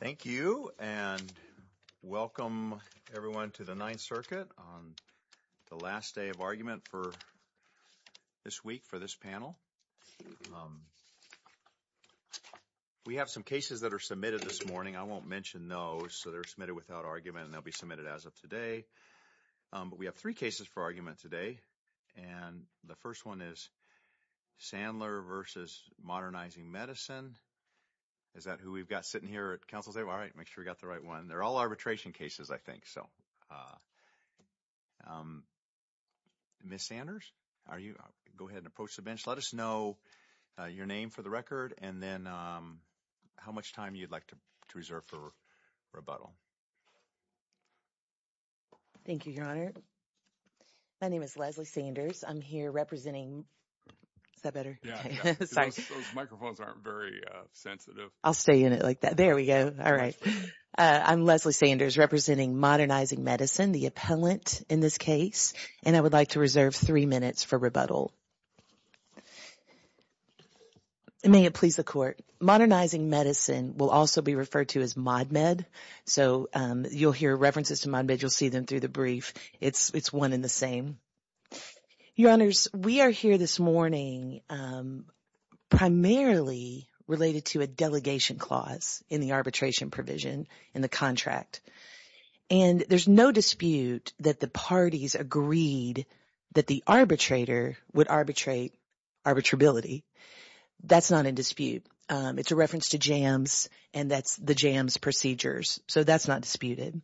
Thank you, and welcome, everyone, to the Ninth Circuit on the last day of argument for this week, for this panel. We have some cases that are submitted this morning. I won't mention those, so they're submitted without argument, and they'll be submitted as of today. We have three cases for argument today, and the first one is Sandler v. Modernizing Medicine. Is that who we've got sitting here at counsel's table? All right, make sure we got the right one. They're all arbitration cases, I think. Ms. Sanders, go ahead and approach the bench. Let us know your name for the record, and then how much time you'd like to reserve for rebuttal. Thank you, Your Honor. My name is Leslie Sanders. I'm here representing the appellant in this case, and I would like to reserve three minutes for rebuttal. May it please the Court. Modernizing Medicine will also be referred to as ModMed, so you'll hear references to ModMed. You'll see them through the brief. It's one and the same. Your Honors, we are here this morning primarily related to a delegation clause in the arbitration provision in the contract, and there's no dispute that the parties agreed that the arbitrator would arbitrate arbitrability. That's not in dispute. It's a reference to JAMS, and that's the JAMS procedures, so that's not disputed.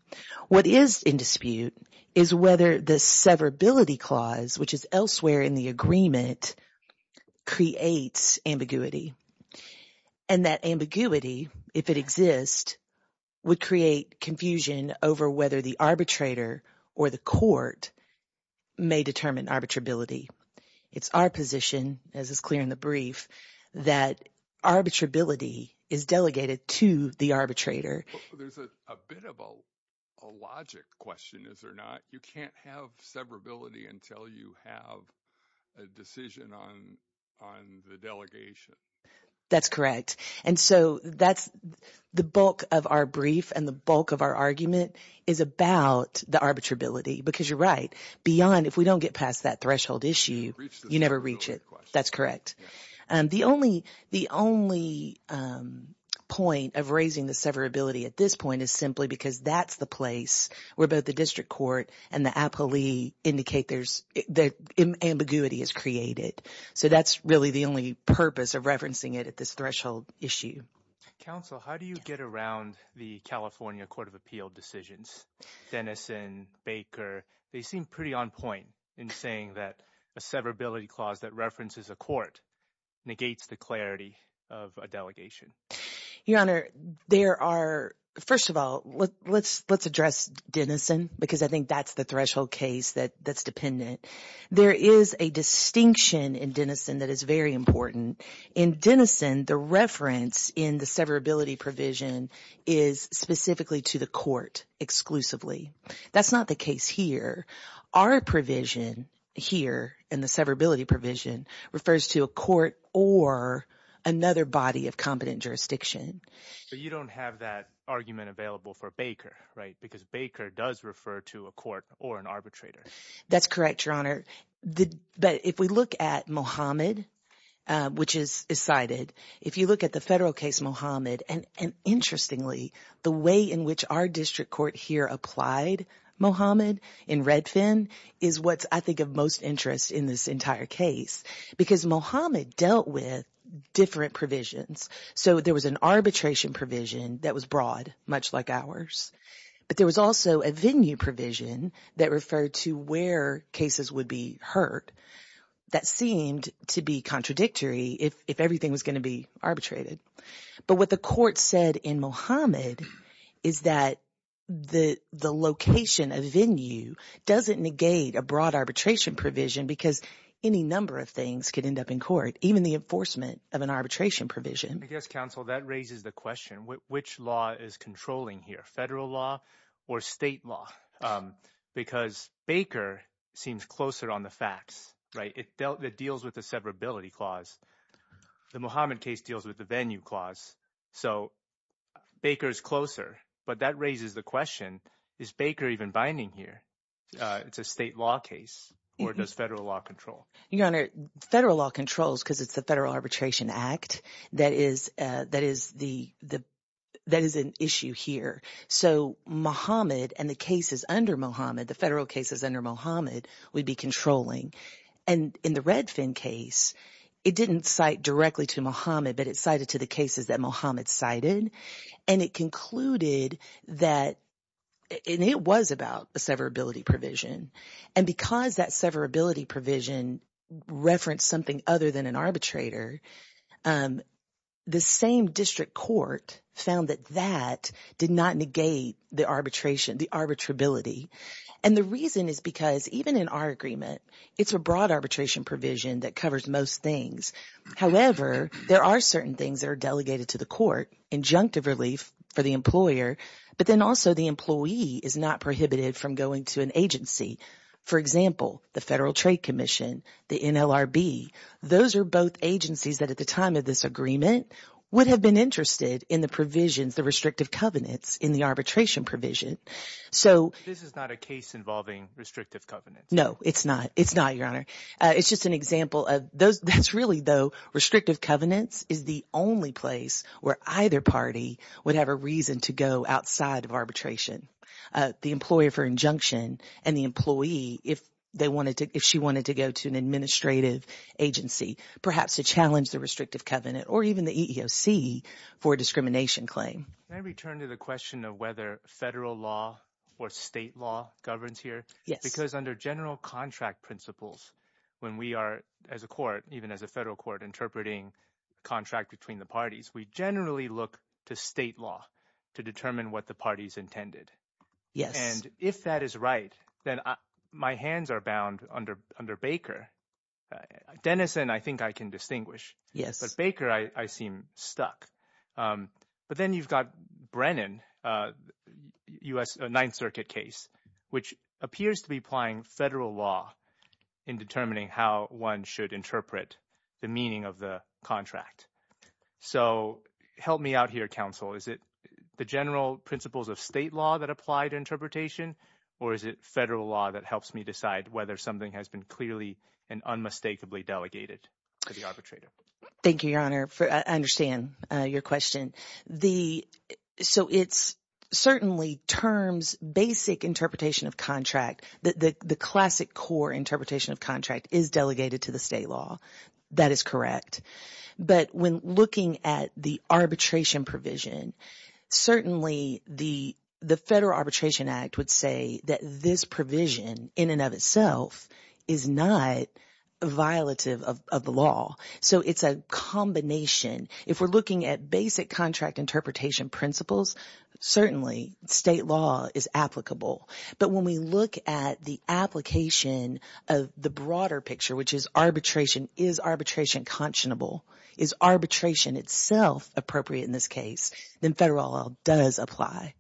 What is in dispute is whether the severability clause, which is elsewhere in the agreement, creates ambiguity, and that ambiguity, if it exists, would create confusion over whether the arbitrator or the court may determine arbitrability. It's our position, as is clear in the brief, that arbitrability is delegated to the arbitrator. There's a bit of a logic question, is there not? You can't have severability until you have a decision on the delegation. That's correct, and so that's – the bulk of our brief and the bulk of our argument is about the arbitrability, because you're right. Beyond – if we don't get past that threshold issue, you never reach it. That's correct. The only point of raising the severability at this point is simply because that's the place where both the district court and the appellee indicate there's – that ambiguity is created, so that's really the only purpose of referencing it at this threshold issue. Counsel, how do you get around the California Court of Appeal decisions? Denison, Baker, they seem pretty on point in saying that a severability clause that references a court negates the clarity of a delegation. Your Honor, there are – first of all, let's address Denison, because I think that's the threshold case that's dependent. There is a distinction in Denison that is very important. In Denison, the reference in the case here, our provision here in the severability provision refers to a court or another body of competent jurisdiction. But you don't have that argument available for Baker, right? Because Baker does refer to a court or an arbitrator. That's correct, Your Honor. But if we look at Mohammed, which is cited, if you look at the federal case Mohammed, and interestingly, the way in which our district court here applied Mohammed in Redfin is what's, I think, of most interest in this entire case, because Mohammed dealt with different provisions. So there was an arbitration provision that was broad, much like ours, but there was also a venue provision that referred to where cases would be heard that seemed to be contradictory if everything was going to be arbitrated. But what the court said in Mohammed is that the location, a venue, doesn't negate a broad arbitration provision because any number of things could end up in court, even the enforcement of an arbitration provision. I guess, counsel, that raises the question, which law is controlling here, federal law or state law? Because Baker seems closer on the facts, right? It deals with the severability clause. The Mohammed case deals with the venue clause. So Baker is closer, but that raises the question, is Baker even binding here? It's a state law case, or does federal law control? Your Honor, federal law controls because it's the Federal Arbitration Act that is an issue here. So Mohammed and the cases under Mohammed, the federal cases under Mohammed, would be controlling. And in the Redfin case, it didn't cite directly to Mohammed, but it cited to the cases that Mohammed cited. And it concluded that, and it was about a severability provision. And because that severability provision referenced something other than an arbitrator, the same district court found that that did not negate the arbitration, the arbitrability. And the reason is because even in our agreement, it's a broad arbitration provision that covers most things. However, there are certain things that are delegated to the court, injunctive relief for the employer, but then also the employee is not prohibited from going to an agency. For example, the Federal Trade Commission, the NLRB. Those are both agencies that at the time of this agreement would have been interested in the provisions, the restrictive covenants in the arbitration provision. So this is not a case involving restrictive covenants. No, it's not. It's not, Your Honor. It's just an example of those. That's really though. Restrictive covenants is the only place where either party would have a reason to go outside of arbitration. The employer for injunction and the employee, if they wanted to, if she wanted to go to an administrative agency, perhaps to challenge the restrictive covenant or even the EEOC for discrimination claim. Can I return to the question of whether federal law or state law governs here? Yes. Because under general contract principles, when we are as a court, even as a federal court, interpreting contract between the parties, we generally look to state law to determine what the party's intended. Yes. And if that is right, then my hands are bound under Baker. Denison, I think I can distinguish. Yes. But Baker, I seem stuck. But then you've got Brennan, a Ninth Circuit case, which appears to be applying federal law in determining how one should interpret the meaning of the contract. So help me out here, counsel. Is it the general principles of state law that apply to interpretation, or is it federal law that helps me decide whether something has been clearly and unmistakably delegated to the arbitrator? Thank you, Your Honor. I understand your question. So it's certainly terms, basic interpretation of contract, the classic core interpretation of contract is delegated to the state law. That is correct. But when looking at the arbitration provision, certainly the Federal Arbitration Act would say that this provision in and of itself is not violative of the law. So it's a combination. If we're looking at basic contract interpretation principles, certainly state law is applicable. But when we look at the application of the broader picture, which is arbitration, is arbitration conscionable? Is arbitration itself appropriate in this case? Then federal law does apply.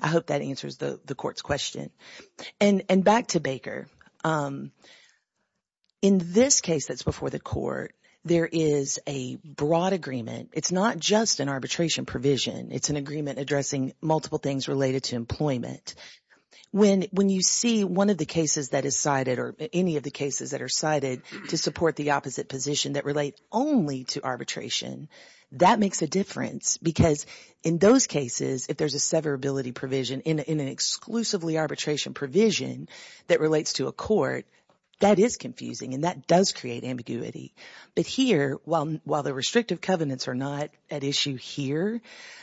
I hope that answers the court's question. And back to Baker. In this case that's before the court, there is a broad agreement. It's not just an arbitration provision. It's an agreement addressing multiple things related to employment. When you see one of the cases that is cited or any of the cases that are cited to support the position that relate only to arbitration, that makes a difference. Because in those cases, if there's a severability provision in an exclusively arbitration provision that relates to a court, that is confusing and that does create ambiguity. But here, while the restrictive covenants are not at issue here,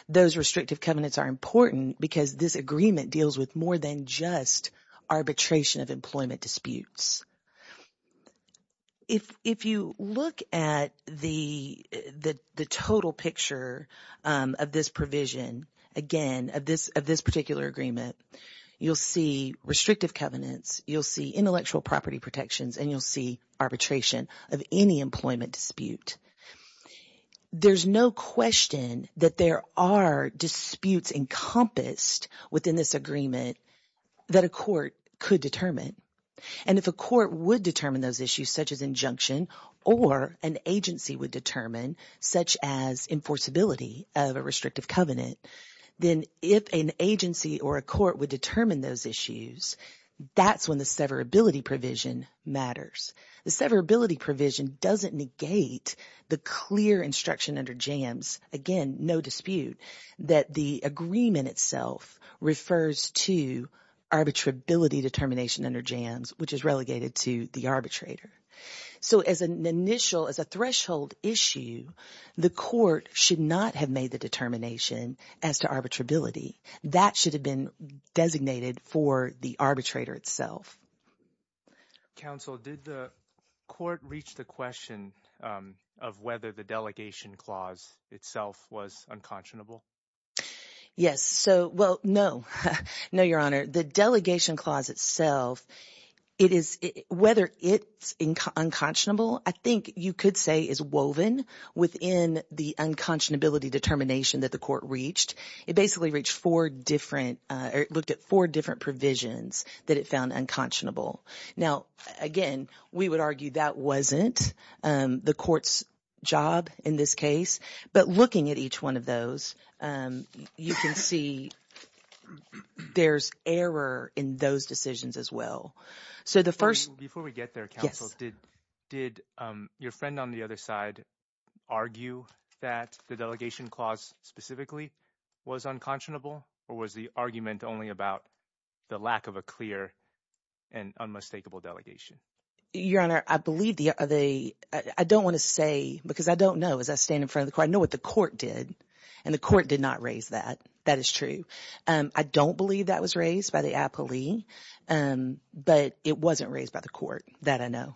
those restrictive covenants are important because this agreement deals with more than just arbitration of employment disputes. If you look at the total picture of this provision, again of this particular agreement, you'll see restrictive covenants, you'll see intellectual property protections, and you'll see arbitration of any employment dispute. There's no question that there are disputes encompassed within this agreement that a court could determine. And if a court would determine those issues, such as injunction, or an agency would determine, such as enforceability of a restrictive covenant, then if an agency or a court would determine those issues, that's when the severability provision matters. The severability provision doesn't negate the clear instruction under JAMS, again, no dispute, that the agreement itself refers to arbitrability determination under JAMS, which is relegated to the arbitrator. So as an initial, as a threshold issue, the court should not have made the determination as to arbitrability. That should have been designated for the arbitrator itself. Counsel, did the court reach the question of whether the delegation clause itself was unconscionable? Yes. So, well, no. No, Your Honor. The delegation clause itself, it is, whether it's unconscionable, I think you could say is woven within the unconscionability determination that the court reached. It basically reached four different, or looked at four provisions that it found unconscionable. Now, again, we would argue that wasn't the court's job in this case, but looking at each one of those, you can see there's error in those decisions as well. Before we get there, counsel, did your friend on the other side argue that the delegation clause specifically was unconscionable, or was the argument only about the lack of a clear and unmistakable delegation? Your Honor, I don't want to say, because I don't know as I stand in front of the court. I know what the court did, and the court did not raise that. That is true. I don't believe that was raised by the appellee, but it wasn't raised by the court. That I know.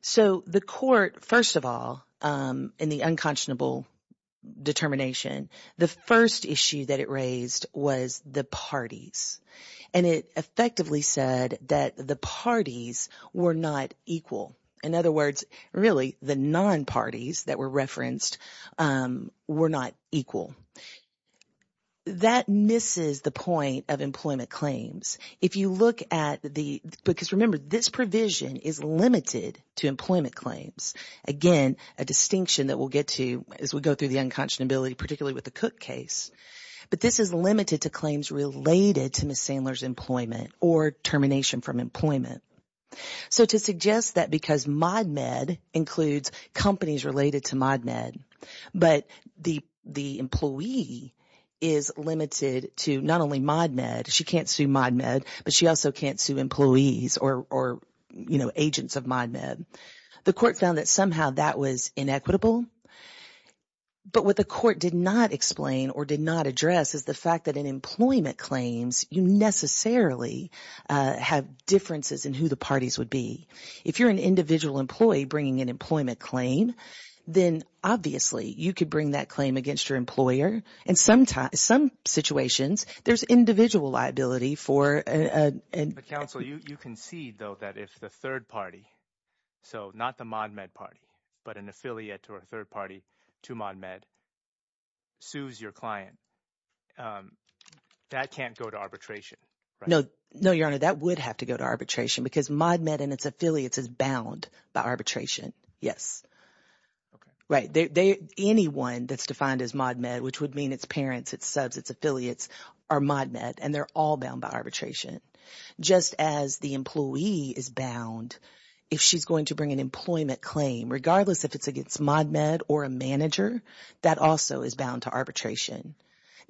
So the court, first of all, in the unconscionable determination, the first issue that it raised was the parties, and it effectively said that the parties were not equal. In other words, really, the non-parties that were referenced were not equal. That misses the point of employment claims. If you look at the, because remember, this provision is limited to employment claims. Again, a distinction that we'll get to as we go through the unconscionability, particularly with the Cook case, but this is limited to claims related to Ms. Sandler's employment, or termination from employment. So to suggest that because ModMed includes companies related to ModMed, but the employee is limited to not only ModMed, she can't sue ModMed, but she also can't sue employees or agents of ModMed. The court found that somehow that was inequitable, but what the court did not explain or did not address is the fact that in employment claims, you necessarily have differences in who the parties would be. If you're an individual employee bringing an employment claim, then obviously, you could bring that claim against your employer, and sometimes, some situations, there's individual liability for— But counsel, you concede, though, that if the third party, so not the ModMed party, but an affiliate or a third party to ModMed sues your client, that can't go to arbitration, right? No. No, Your Honor. That would have to go to arbitration because ModMed and its affiliates is bound by arbitration. Yes. Okay. Right. Anyone that's defined as ModMed, which would mean its parents, its subs, its affiliates are ModMed, and they're all bound by arbitration. Just as the employee is bound, if she's going to bring an employment claim, regardless if it's against ModMed or a manager, that also is bound to arbitration.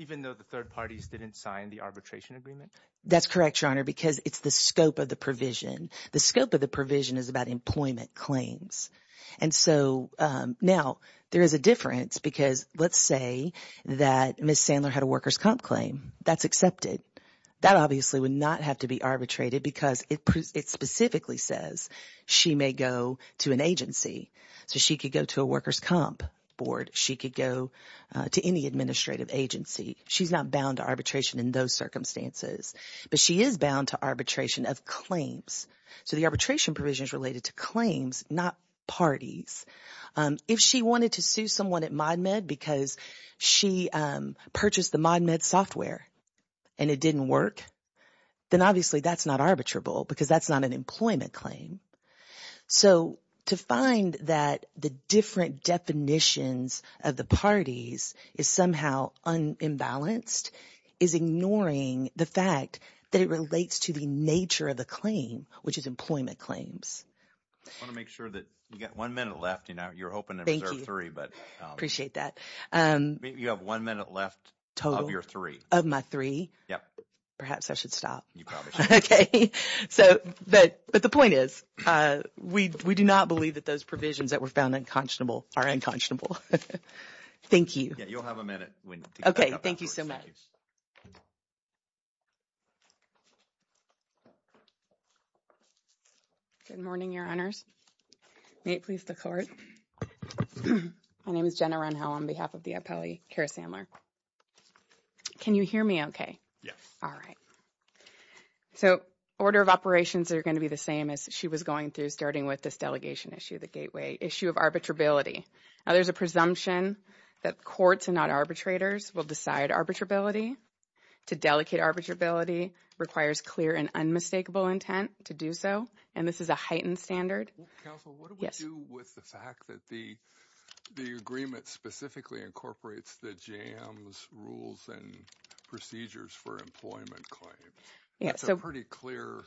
Even though the third parties didn't sign the arbitration agreement? That's correct, Your Honor, because it's the scope of the provision. The scope of the provision is about employment claims, and so now there is a difference because let's say that Ms. Sandler had a workers' comp claim. That's accepted. That obviously would not have to be arbitrated because it specifically says she may go to an agency. So she could go to a workers' comp board. She could go to any administrative agency. She's not bound to arbitration in those circumstances, but she is bound to arbitration of claims. So the arbitration provision is related to claims, not parties. If she wanted to sue someone at ModMed because she purchased the ModMed software and it didn't work, then obviously that's not arbitrable because that's not an employment claim. So to find that the different definitions of the parties is somehow unbalanced is ignoring the fact that it relates to the nature of the claim, which is employment claims. I want to make sure that you got one minute left. You know, you're hoping to reserve three, but. Appreciate that. You have one minute left of your three. Of my three? Yeah. Perhaps I should stop. You probably should. Okay. But the point is, we do not believe that those provisions that were found unconscionable are unconscionable. Thank you. Yeah, you'll have a minute. Okay. Thank you so much. Thank you. Good morning, Your Honors. May it please the Court. My name is Jenna Renho on behalf of the appellee, Kara Sandler. Can you hear me okay? Yes. All right. So order of operations are going to be the same as she was going through, starting with this delegation issue, the gateway issue of arbitrability. Now, there's a presumption that courts and not arbitrators will decide arbitrability. To delegate arbitrability requires clear and unmistakable intent to do so, and this is a heightened standard. Counsel, what do we do with the fact that the agreement specifically incorporates the jams, rules, and procedures for employment claims? Yes. That's a pretty clear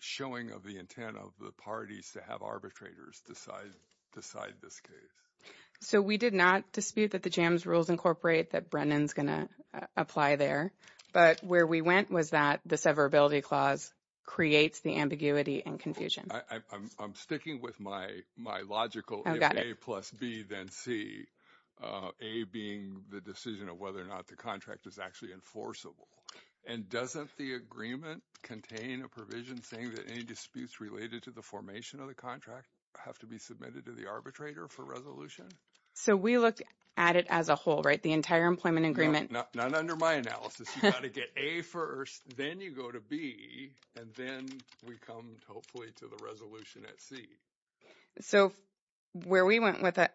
showing of the intent of the parties to have arbitrators decide this case. So we did not dispute that the jams, rules incorporate, that Brennan's going to apply there. But where we went was that the severability clause creates the ambiguity and confusion. I'm sticking with my logical A plus B, then C, A being the decision of whether or not the contract is actually enforceable. And doesn't the agreement contain a provision saying that any disputes related to the formation of the contract have to be submitted to the arbitrator for resolution? So we looked at it as a whole, right? The entire employment agreement. Not under my analysis. You got to get A first, then you go to B, and then we come, hopefully, to the resolution at C. So where we went with it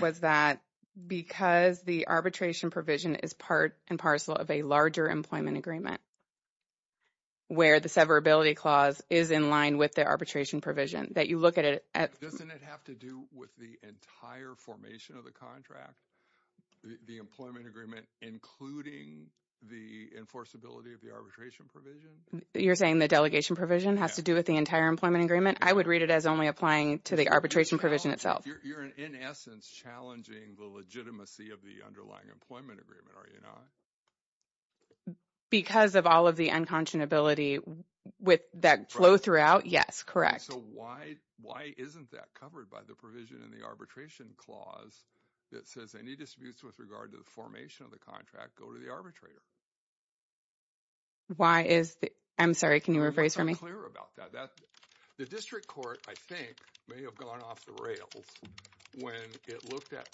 was that because the arbitration provision is part and parcel of a larger employment agreement where the severability clause is in line with the arbitration provision, Doesn't it have to do with the entire formation of the contract, the employment agreement, including the enforceability of the arbitration provision? You're saying the delegation provision has to do with the entire employment agreement? I would read it as only applying to the arbitration provision itself. You're, in essence, challenging the legitimacy of the underlying employment agreement, are you not? Because of all of the unconscionability with that flow throughout, yes, correct. So why isn't that covered by the provision in the arbitration clause that says any disputes with regard to the formation of the contract go to the arbitrator? Why is the, I'm sorry, can you rephrase for me? I'm not clear about that. The district court, I think, may have gone off the rails when it looked at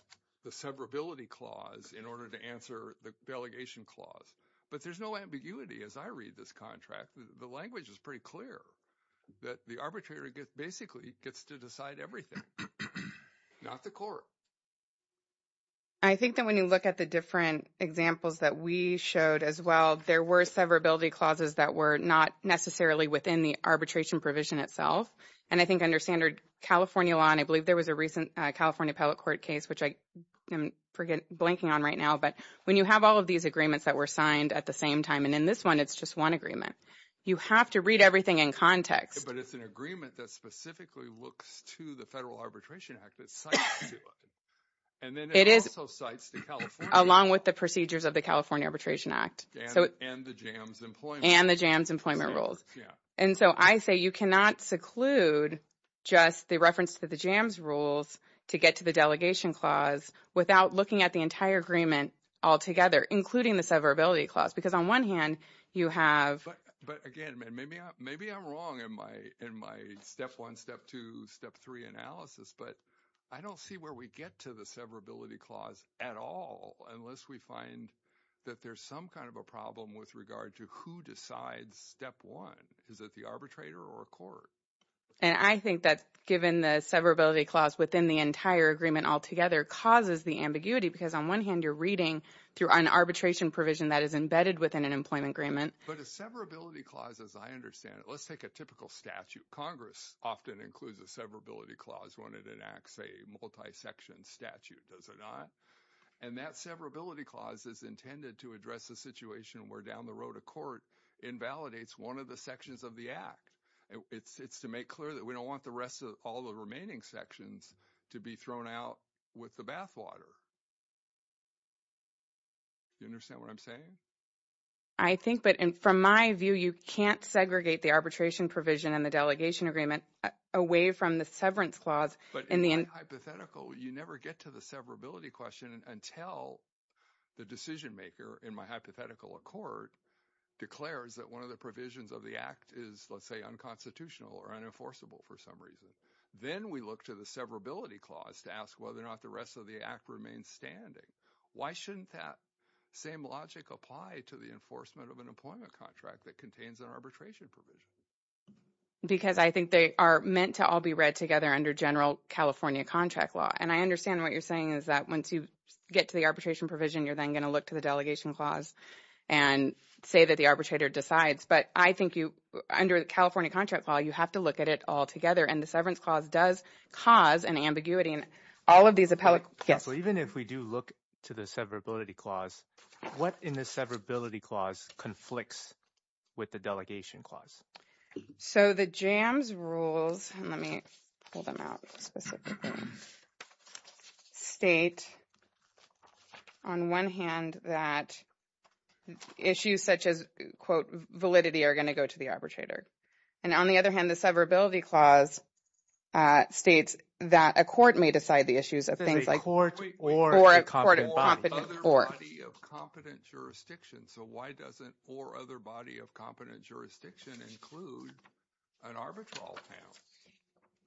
the severability clause in order to answer the delegation clause. But there's no ambiguity as I read this contract. The language is pretty clear that the arbitrator basically gets to decide everything, not the court. I think that when you look at the different examples that we showed as well, there were severability clauses that were not necessarily within the arbitration provision itself. And I think under standard California law, and I believe there was a recent California appellate court case, which I am blanking on right now. But when you have all of these agreements that were signed at the same time, and in this one, it's just one agreement, you have to read everything in context. But it's an agreement that specifically looks to the Federal Arbitration Act that's signed to it. And then it also cites the California. Along with the procedures of the California Arbitration Act. And the JAMS employment. And the JAMS employment rules. And so I say you cannot seclude just the reference to the JAMS rules to get to the delegation clause without looking at the entire agreement altogether, including the severability clause. Because on one hand, you have. But again, maybe I'm wrong in my step one, step two, step three analysis. But I don't see where we get to the severability clause at all, unless we find that there's some kind of a problem with regard to who decides step one. Is it the arbitrator or a court? And I think that given the severability clause within the entire agreement altogether causes the ambiguity. Because on one hand, you're reading through an arbitration provision that is embedded within an employment agreement. But a severability clause, as I understand it, let's take a typical statute. Congress often includes a severability clause when it enacts a multi-section statute, does it not? And that severability clause is intended to address a situation where down the road a court invalidates one of the sections of the act. It's to make clear that we don't want the rest of all the remaining sections to be thrown out with the bathwater. You understand what I'm saying? I think, but from my view, you can't segregate the arbitration provision in the delegation agreement away from the severance clause. But in my hypothetical, you never get to the severability question until the decision maker in my hypothetical accord declares that one of the provisions of the act is, let's say, unconstitutional or unenforceable for some reason. Then we look to the severability clause to ask whether or not the rest of the act remains standing. Why shouldn't that same logic apply to the enforcement of an employment contract that contains an arbitration provision? Because I think they are meant to all be read together under general California contract law. And I understand what you're saying is that once you get to the arbitration provision, you're then going to look to the delegation clause and say that the arbitrator decides. But I think under the California contract law, you have to look at it all together. And the severance clause does cause an ambiguity in all of these appellate... Even if we do look to the severability clause, what in the severability clause conflicts with the delegation clause? So the JAMS rules, let me pull them out specifically, state on one hand that issues such as, quote, validity are going to go to the arbitrator. And on the other hand, the severability clause states that a court may decide the issues of things like... Or a competent body. Or other body of competent jurisdiction. So why doesn't or other body of competent jurisdiction include an arbitral panel?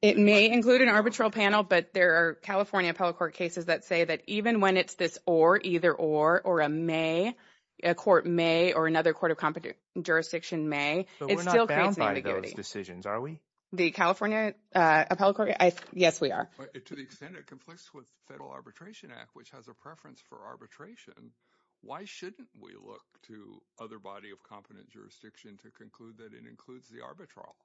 It may include an arbitral panel, but there are California appellate court cases that say that even when it's this or, either or, or a may, a court may or another court of competent jurisdiction may, it still creates an ambiguity. But we're not bound by those decisions, are we? The California appellate court... Yes, we are. To the extent it conflicts with Federal Arbitration Act, which has a preference for arbitration, why shouldn't we look to other body of competent jurisdiction to conclude that it includes the arbitral?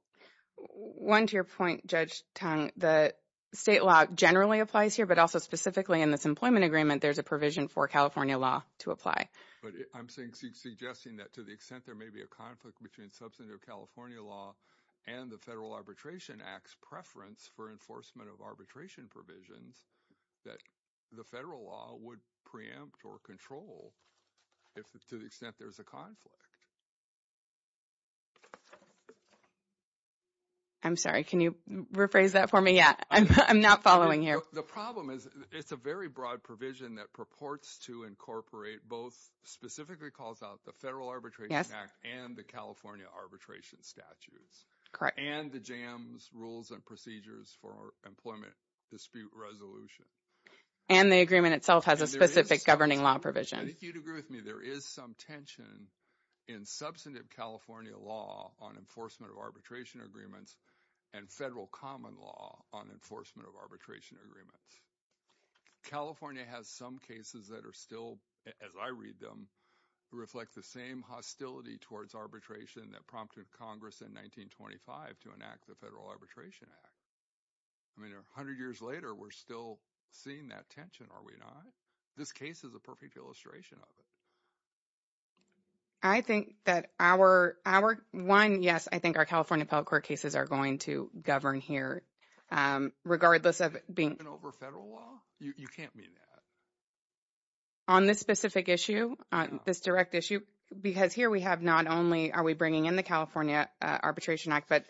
One to your point, Judge Tong, the state law generally applies here, but also specifically in this employment agreement, there's a provision for California law to apply. But I'm suggesting that to the extent there may be a conflict between substantive California law and the Federal Arbitration Act's preference for enforcement of arbitration provisions, that the federal law would preempt or control if to the extent there's a conflict. I'm sorry, can you rephrase that for me? Yeah, I'm not following here. The problem is it's a very broad provision that purports to incorporate both specifically calls out the Federal Arbitration Act and the California arbitration statutes. And the JAMS rules and procedures for employment dispute resolution. And the agreement itself has a specific governing law provision. I think you'd agree with me, there is some tension in substantive California law on enforcement of arbitration agreements and federal common law on enforcement of arbitration agreements. California has some cases that are still, as I read them, reflect the same hostility towards arbitration that prompted Congress in 1925 to enact the Federal Arbitration Act. I mean, a hundred years later, we're still seeing that tension, are we not? This case is a perfect illustration of it. I think that our one, yes, I think our California public court cases are going to govern here, regardless of being- Even over federal law? You can't mean that. On this specific issue, this direct issue, because here we have not only are we bringing in the California Arbitration Act, but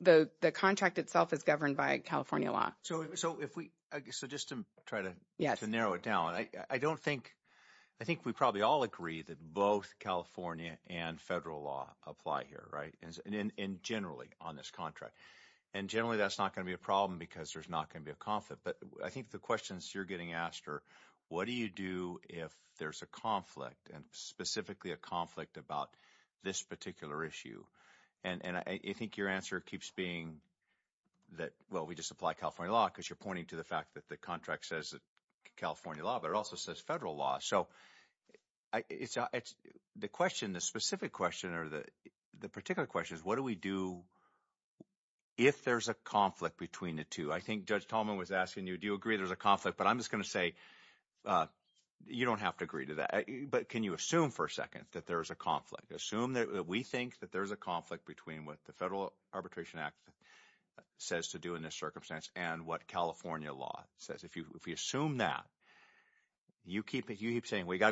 the contract itself is governed by California law. So if we, so just to try to narrow it down, I don't think, I think we probably all agree that both California and federal law apply here, right, and generally on this contract. And generally that's not going to be a problem because there's not going to be a conflict. I think the questions you're getting asked are, what do you do if there's a conflict, and specifically a conflict about this particular issue? And I think your answer keeps being that, well, we just apply California law because you're pointing to the fact that the contract says California law, but it also says federal law. So the question, the specific question, or the particular question is, what do we do if there's a conflict between the two? I think Judge Tallman was asking you, do you agree there's a conflict? But I'm just going to say, you don't have to agree to that. But can you assume for a second that there's a conflict? Assume that we think that there's a conflict between what the Federal Arbitration Act says to do in this circumstance and what California law says. If you assume that, you keep saying, well, you got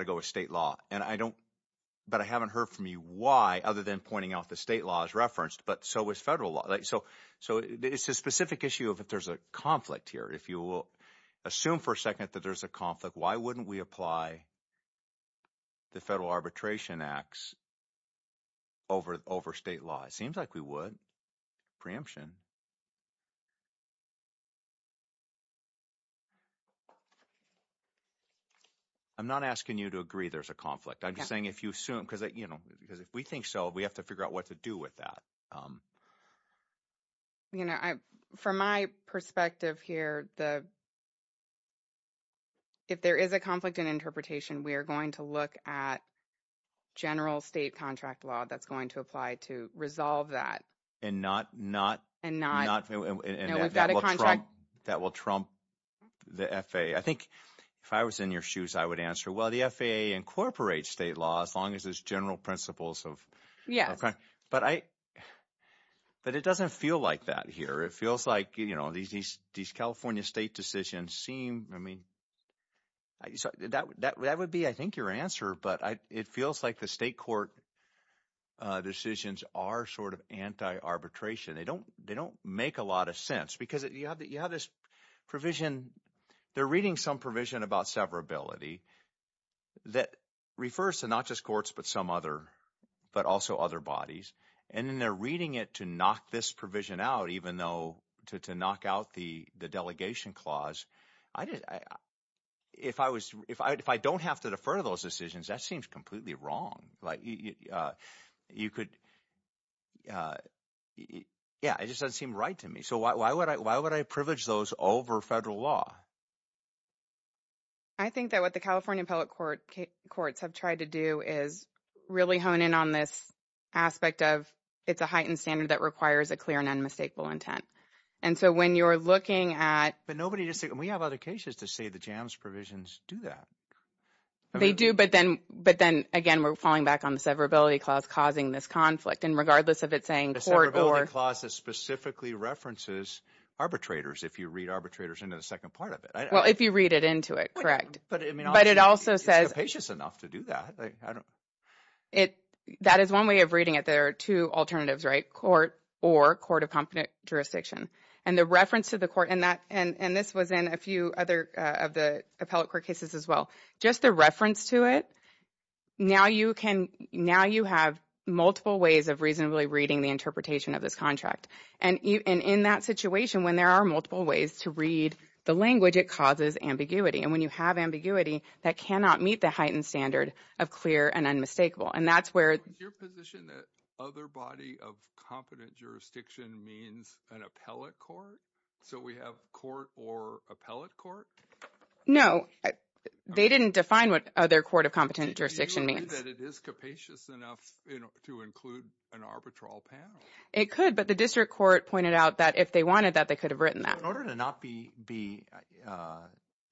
to go with state law. And I don't, but I haven't heard from you why, other than pointing out the state law is referenced, but so is federal law. So it's a specific issue of if there's a conflict here. If you will assume for a second that there's a conflict, why wouldn't we apply the Federal Arbitration Acts over state law? It seems like we would, preemption. I'm not asking you to agree there's a conflict. I'm just saying if you assume, because if we think so, we have to figure out what to do with that. From my perspective here, if there is a conflict in interpretation, we are going to look at general state contract law that's going to apply to resolve that. And not, that will trump the FAA. I think if I was in your shoes, I would answer, well, the FAA incorporates state law as long as there's general principles of, but it doesn't feel like that here. It feels like these California state decisions seem, I mean, that would be, I think your answer, but it feels like the state court decisions are sort of anti-arbitration. They don't make a lot of sense because you have this provision. They're reading some provision about severability that refers to not just courts, but some other, but also other bodies. And then they're reading it to knock this provision out, even though to knock out the delegation clause, if I don't have to defer those decisions, that seems completely wrong. Yeah, it just doesn't seem right to me. So why would I privilege those over federal law? I think that what the California appellate courts have tried to do is really hone in on this aspect of, it's a heightened standard that requires a clear and unmistakable intent. And so when you're looking at- But nobody just said, we have other cases to say the JAMS provisions do that. They do, but then again, we're falling back on the severability clause causing this conflict. And regardless of it saying court or- Arbitrators, if you read arbitrators into the second part of it. Well, if you read it into it, correct. But it also says- It's capacious enough to do that. That is one way of reading it. There are two alternatives, right? Court or court of competent jurisdiction. And the reference to the court, and this was in a few other of the appellate court cases as well. Just the reference to it, now you have multiple ways of reasonably reading the interpretation of this contract. And in that situation, when there are multiple ways to read the language, it causes ambiguity. And when you have ambiguity, that cannot meet the heightened standard of clear and unmistakable. And that's where- Is your position that other body of competent jurisdiction means an appellate court? So we have court or appellate court? No, they didn't define what other court of competent jurisdiction means. Do you agree that it is capacious enough to include an arbitral panel? It could, but the district court pointed out that if they wanted that, they could have written that. In order to not be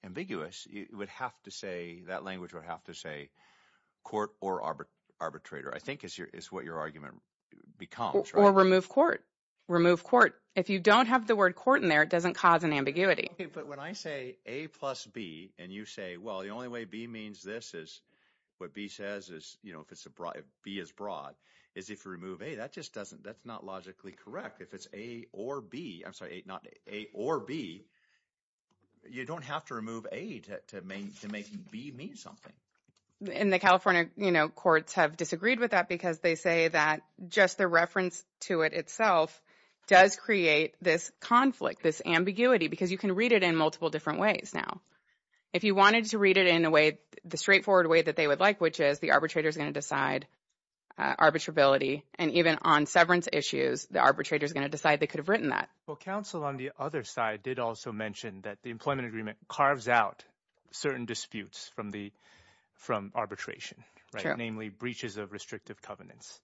ambiguous, you would have to say, that language would have to say court or arbitrator, I think is what your argument becomes. Or remove court. Remove court. If you don't have the word court in there, it doesn't cause an ambiguity. Okay, but when I say A plus B, and you say, well, the only way B means this is what B says is, you know, if B is broad, is if you remove A, that just doesn't, that's not logically correct. If it's A or B, I'm sorry, not A or B, you don't have to remove A to make B mean something. And the California courts have disagreed with that because they say that just the reference to it itself does create this conflict, this ambiguity, because you can read it in multiple different ways now. If you wanted to read it in a way, the straightforward way that they would like, which is the arbitrator is going to decide arbitrability. And even on severance issues, the arbitrator is going to decide they could have written that. Well, counsel on the other side did also mention that the employment agreement carves out certain disputes from arbitration, right? Namely breaches of restrictive covenants.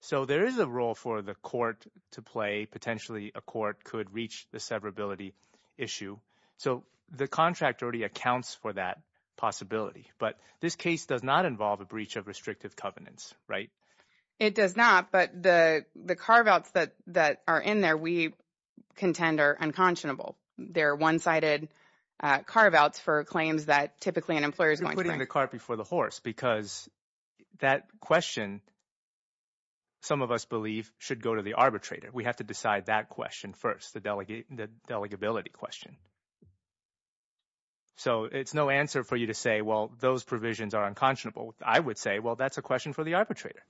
So there is a role for the court to play. Potentially a court could reach the severability issue. So the contract already accounts for that possibility. But this case does not involve a breach of restrictive covenants, right? It does not. But the carve-outs that are in there, we contend are unconscionable. They're one-sided carve-outs for claims that typically an employer is going to make. You're putting the cart before the horse because that question, some of us believe, should go to the arbitrator. We have to decide that question first, the delegability question. So it's no answer for you to say, well, those provisions are unconscionable. I would say, well, that's a question for the arbitrator.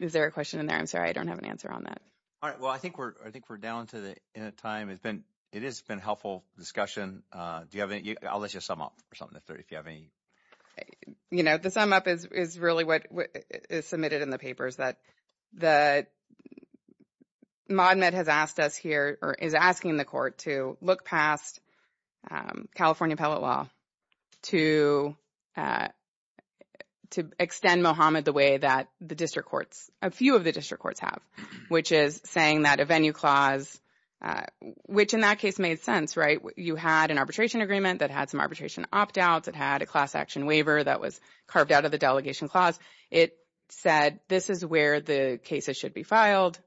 Is there a question in there? I'm sorry, I don't have an answer on that. All right. Well, I think we're down to the end of time. It has been a helpful discussion. I'll let you sum up or something if you have any. You know, the sum up is really what is submitted in the papers, that MoDMED has asked us here or is asking the court to look past California appellate law to extend Mohamed the way that the district courts, a few of the district courts have, which is saying that a venue clause, which in that case made sense, right? You had an arbitration agreement that had some arbitration opt-outs. It had a class action waiver that was carved out of the delegation clause. It said, this is where the cases should be filed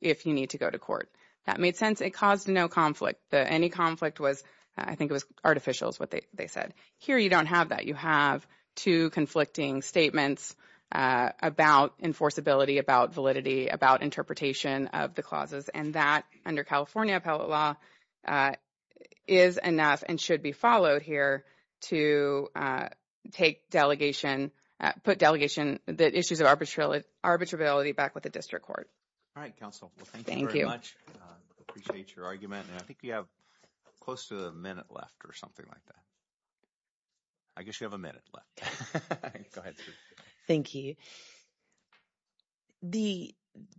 if you need to go to court. That made sense. It caused no conflict. Any conflict was, I think it was artificial is what they said. Here, you don't have that. You have two conflicting statements about enforceability, about validity, about interpretation of the clauses, and that under California appellate law that is enough and should be followed here to take delegation, put delegation, the issues of arbitrability back with the district court. All right, counsel. Well, thank you very much. Appreciate your argument. And I think you have close to a minute left or something like that. I guess you have a minute left. Thank you. The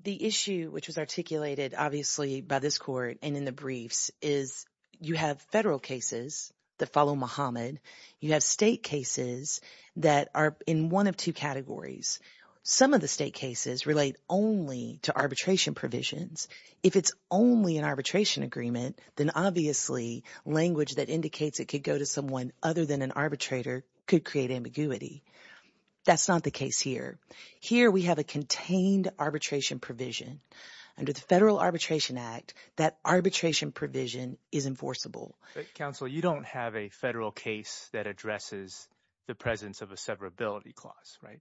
issue, which was articulated, obviously, by this court and in the briefs, is you have federal cases that follow Muhammad. You have state cases that are in one of two categories. Some of the state cases relate only to arbitration provisions. If it's only an arbitration agreement, then obviously language that indicates it could go to someone other than an arbitrator could create ambiguity. That's not the case here. Here we have a contained arbitration provision. Under the Federal Arbitration Act, that arbitration provision is enforceable. Counsel, you don't have a federal case that addresses the presence of a severability clause, right?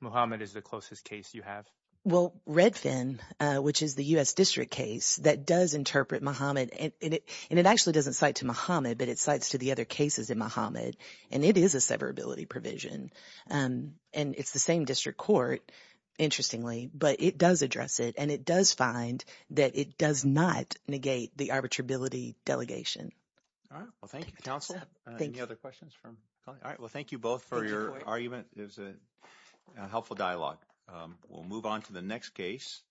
Muhammad is the closest case you have. Well, Redfin, which is the U.S. district case, that does interpret Muhammad. And it actually doesn't cite to Muhammad, but it cites to the other cases in Muhammad. And it is a severability provision. And it's the same district court, interestingly, but it does address it. And it does find that it does not negate the arbitrability delegation. All right. Well, thank you, counsel. Any other questions from colleagues? All right. Well, thank you both for your argument. It was a helpful dialogue. We'll move on to the next case.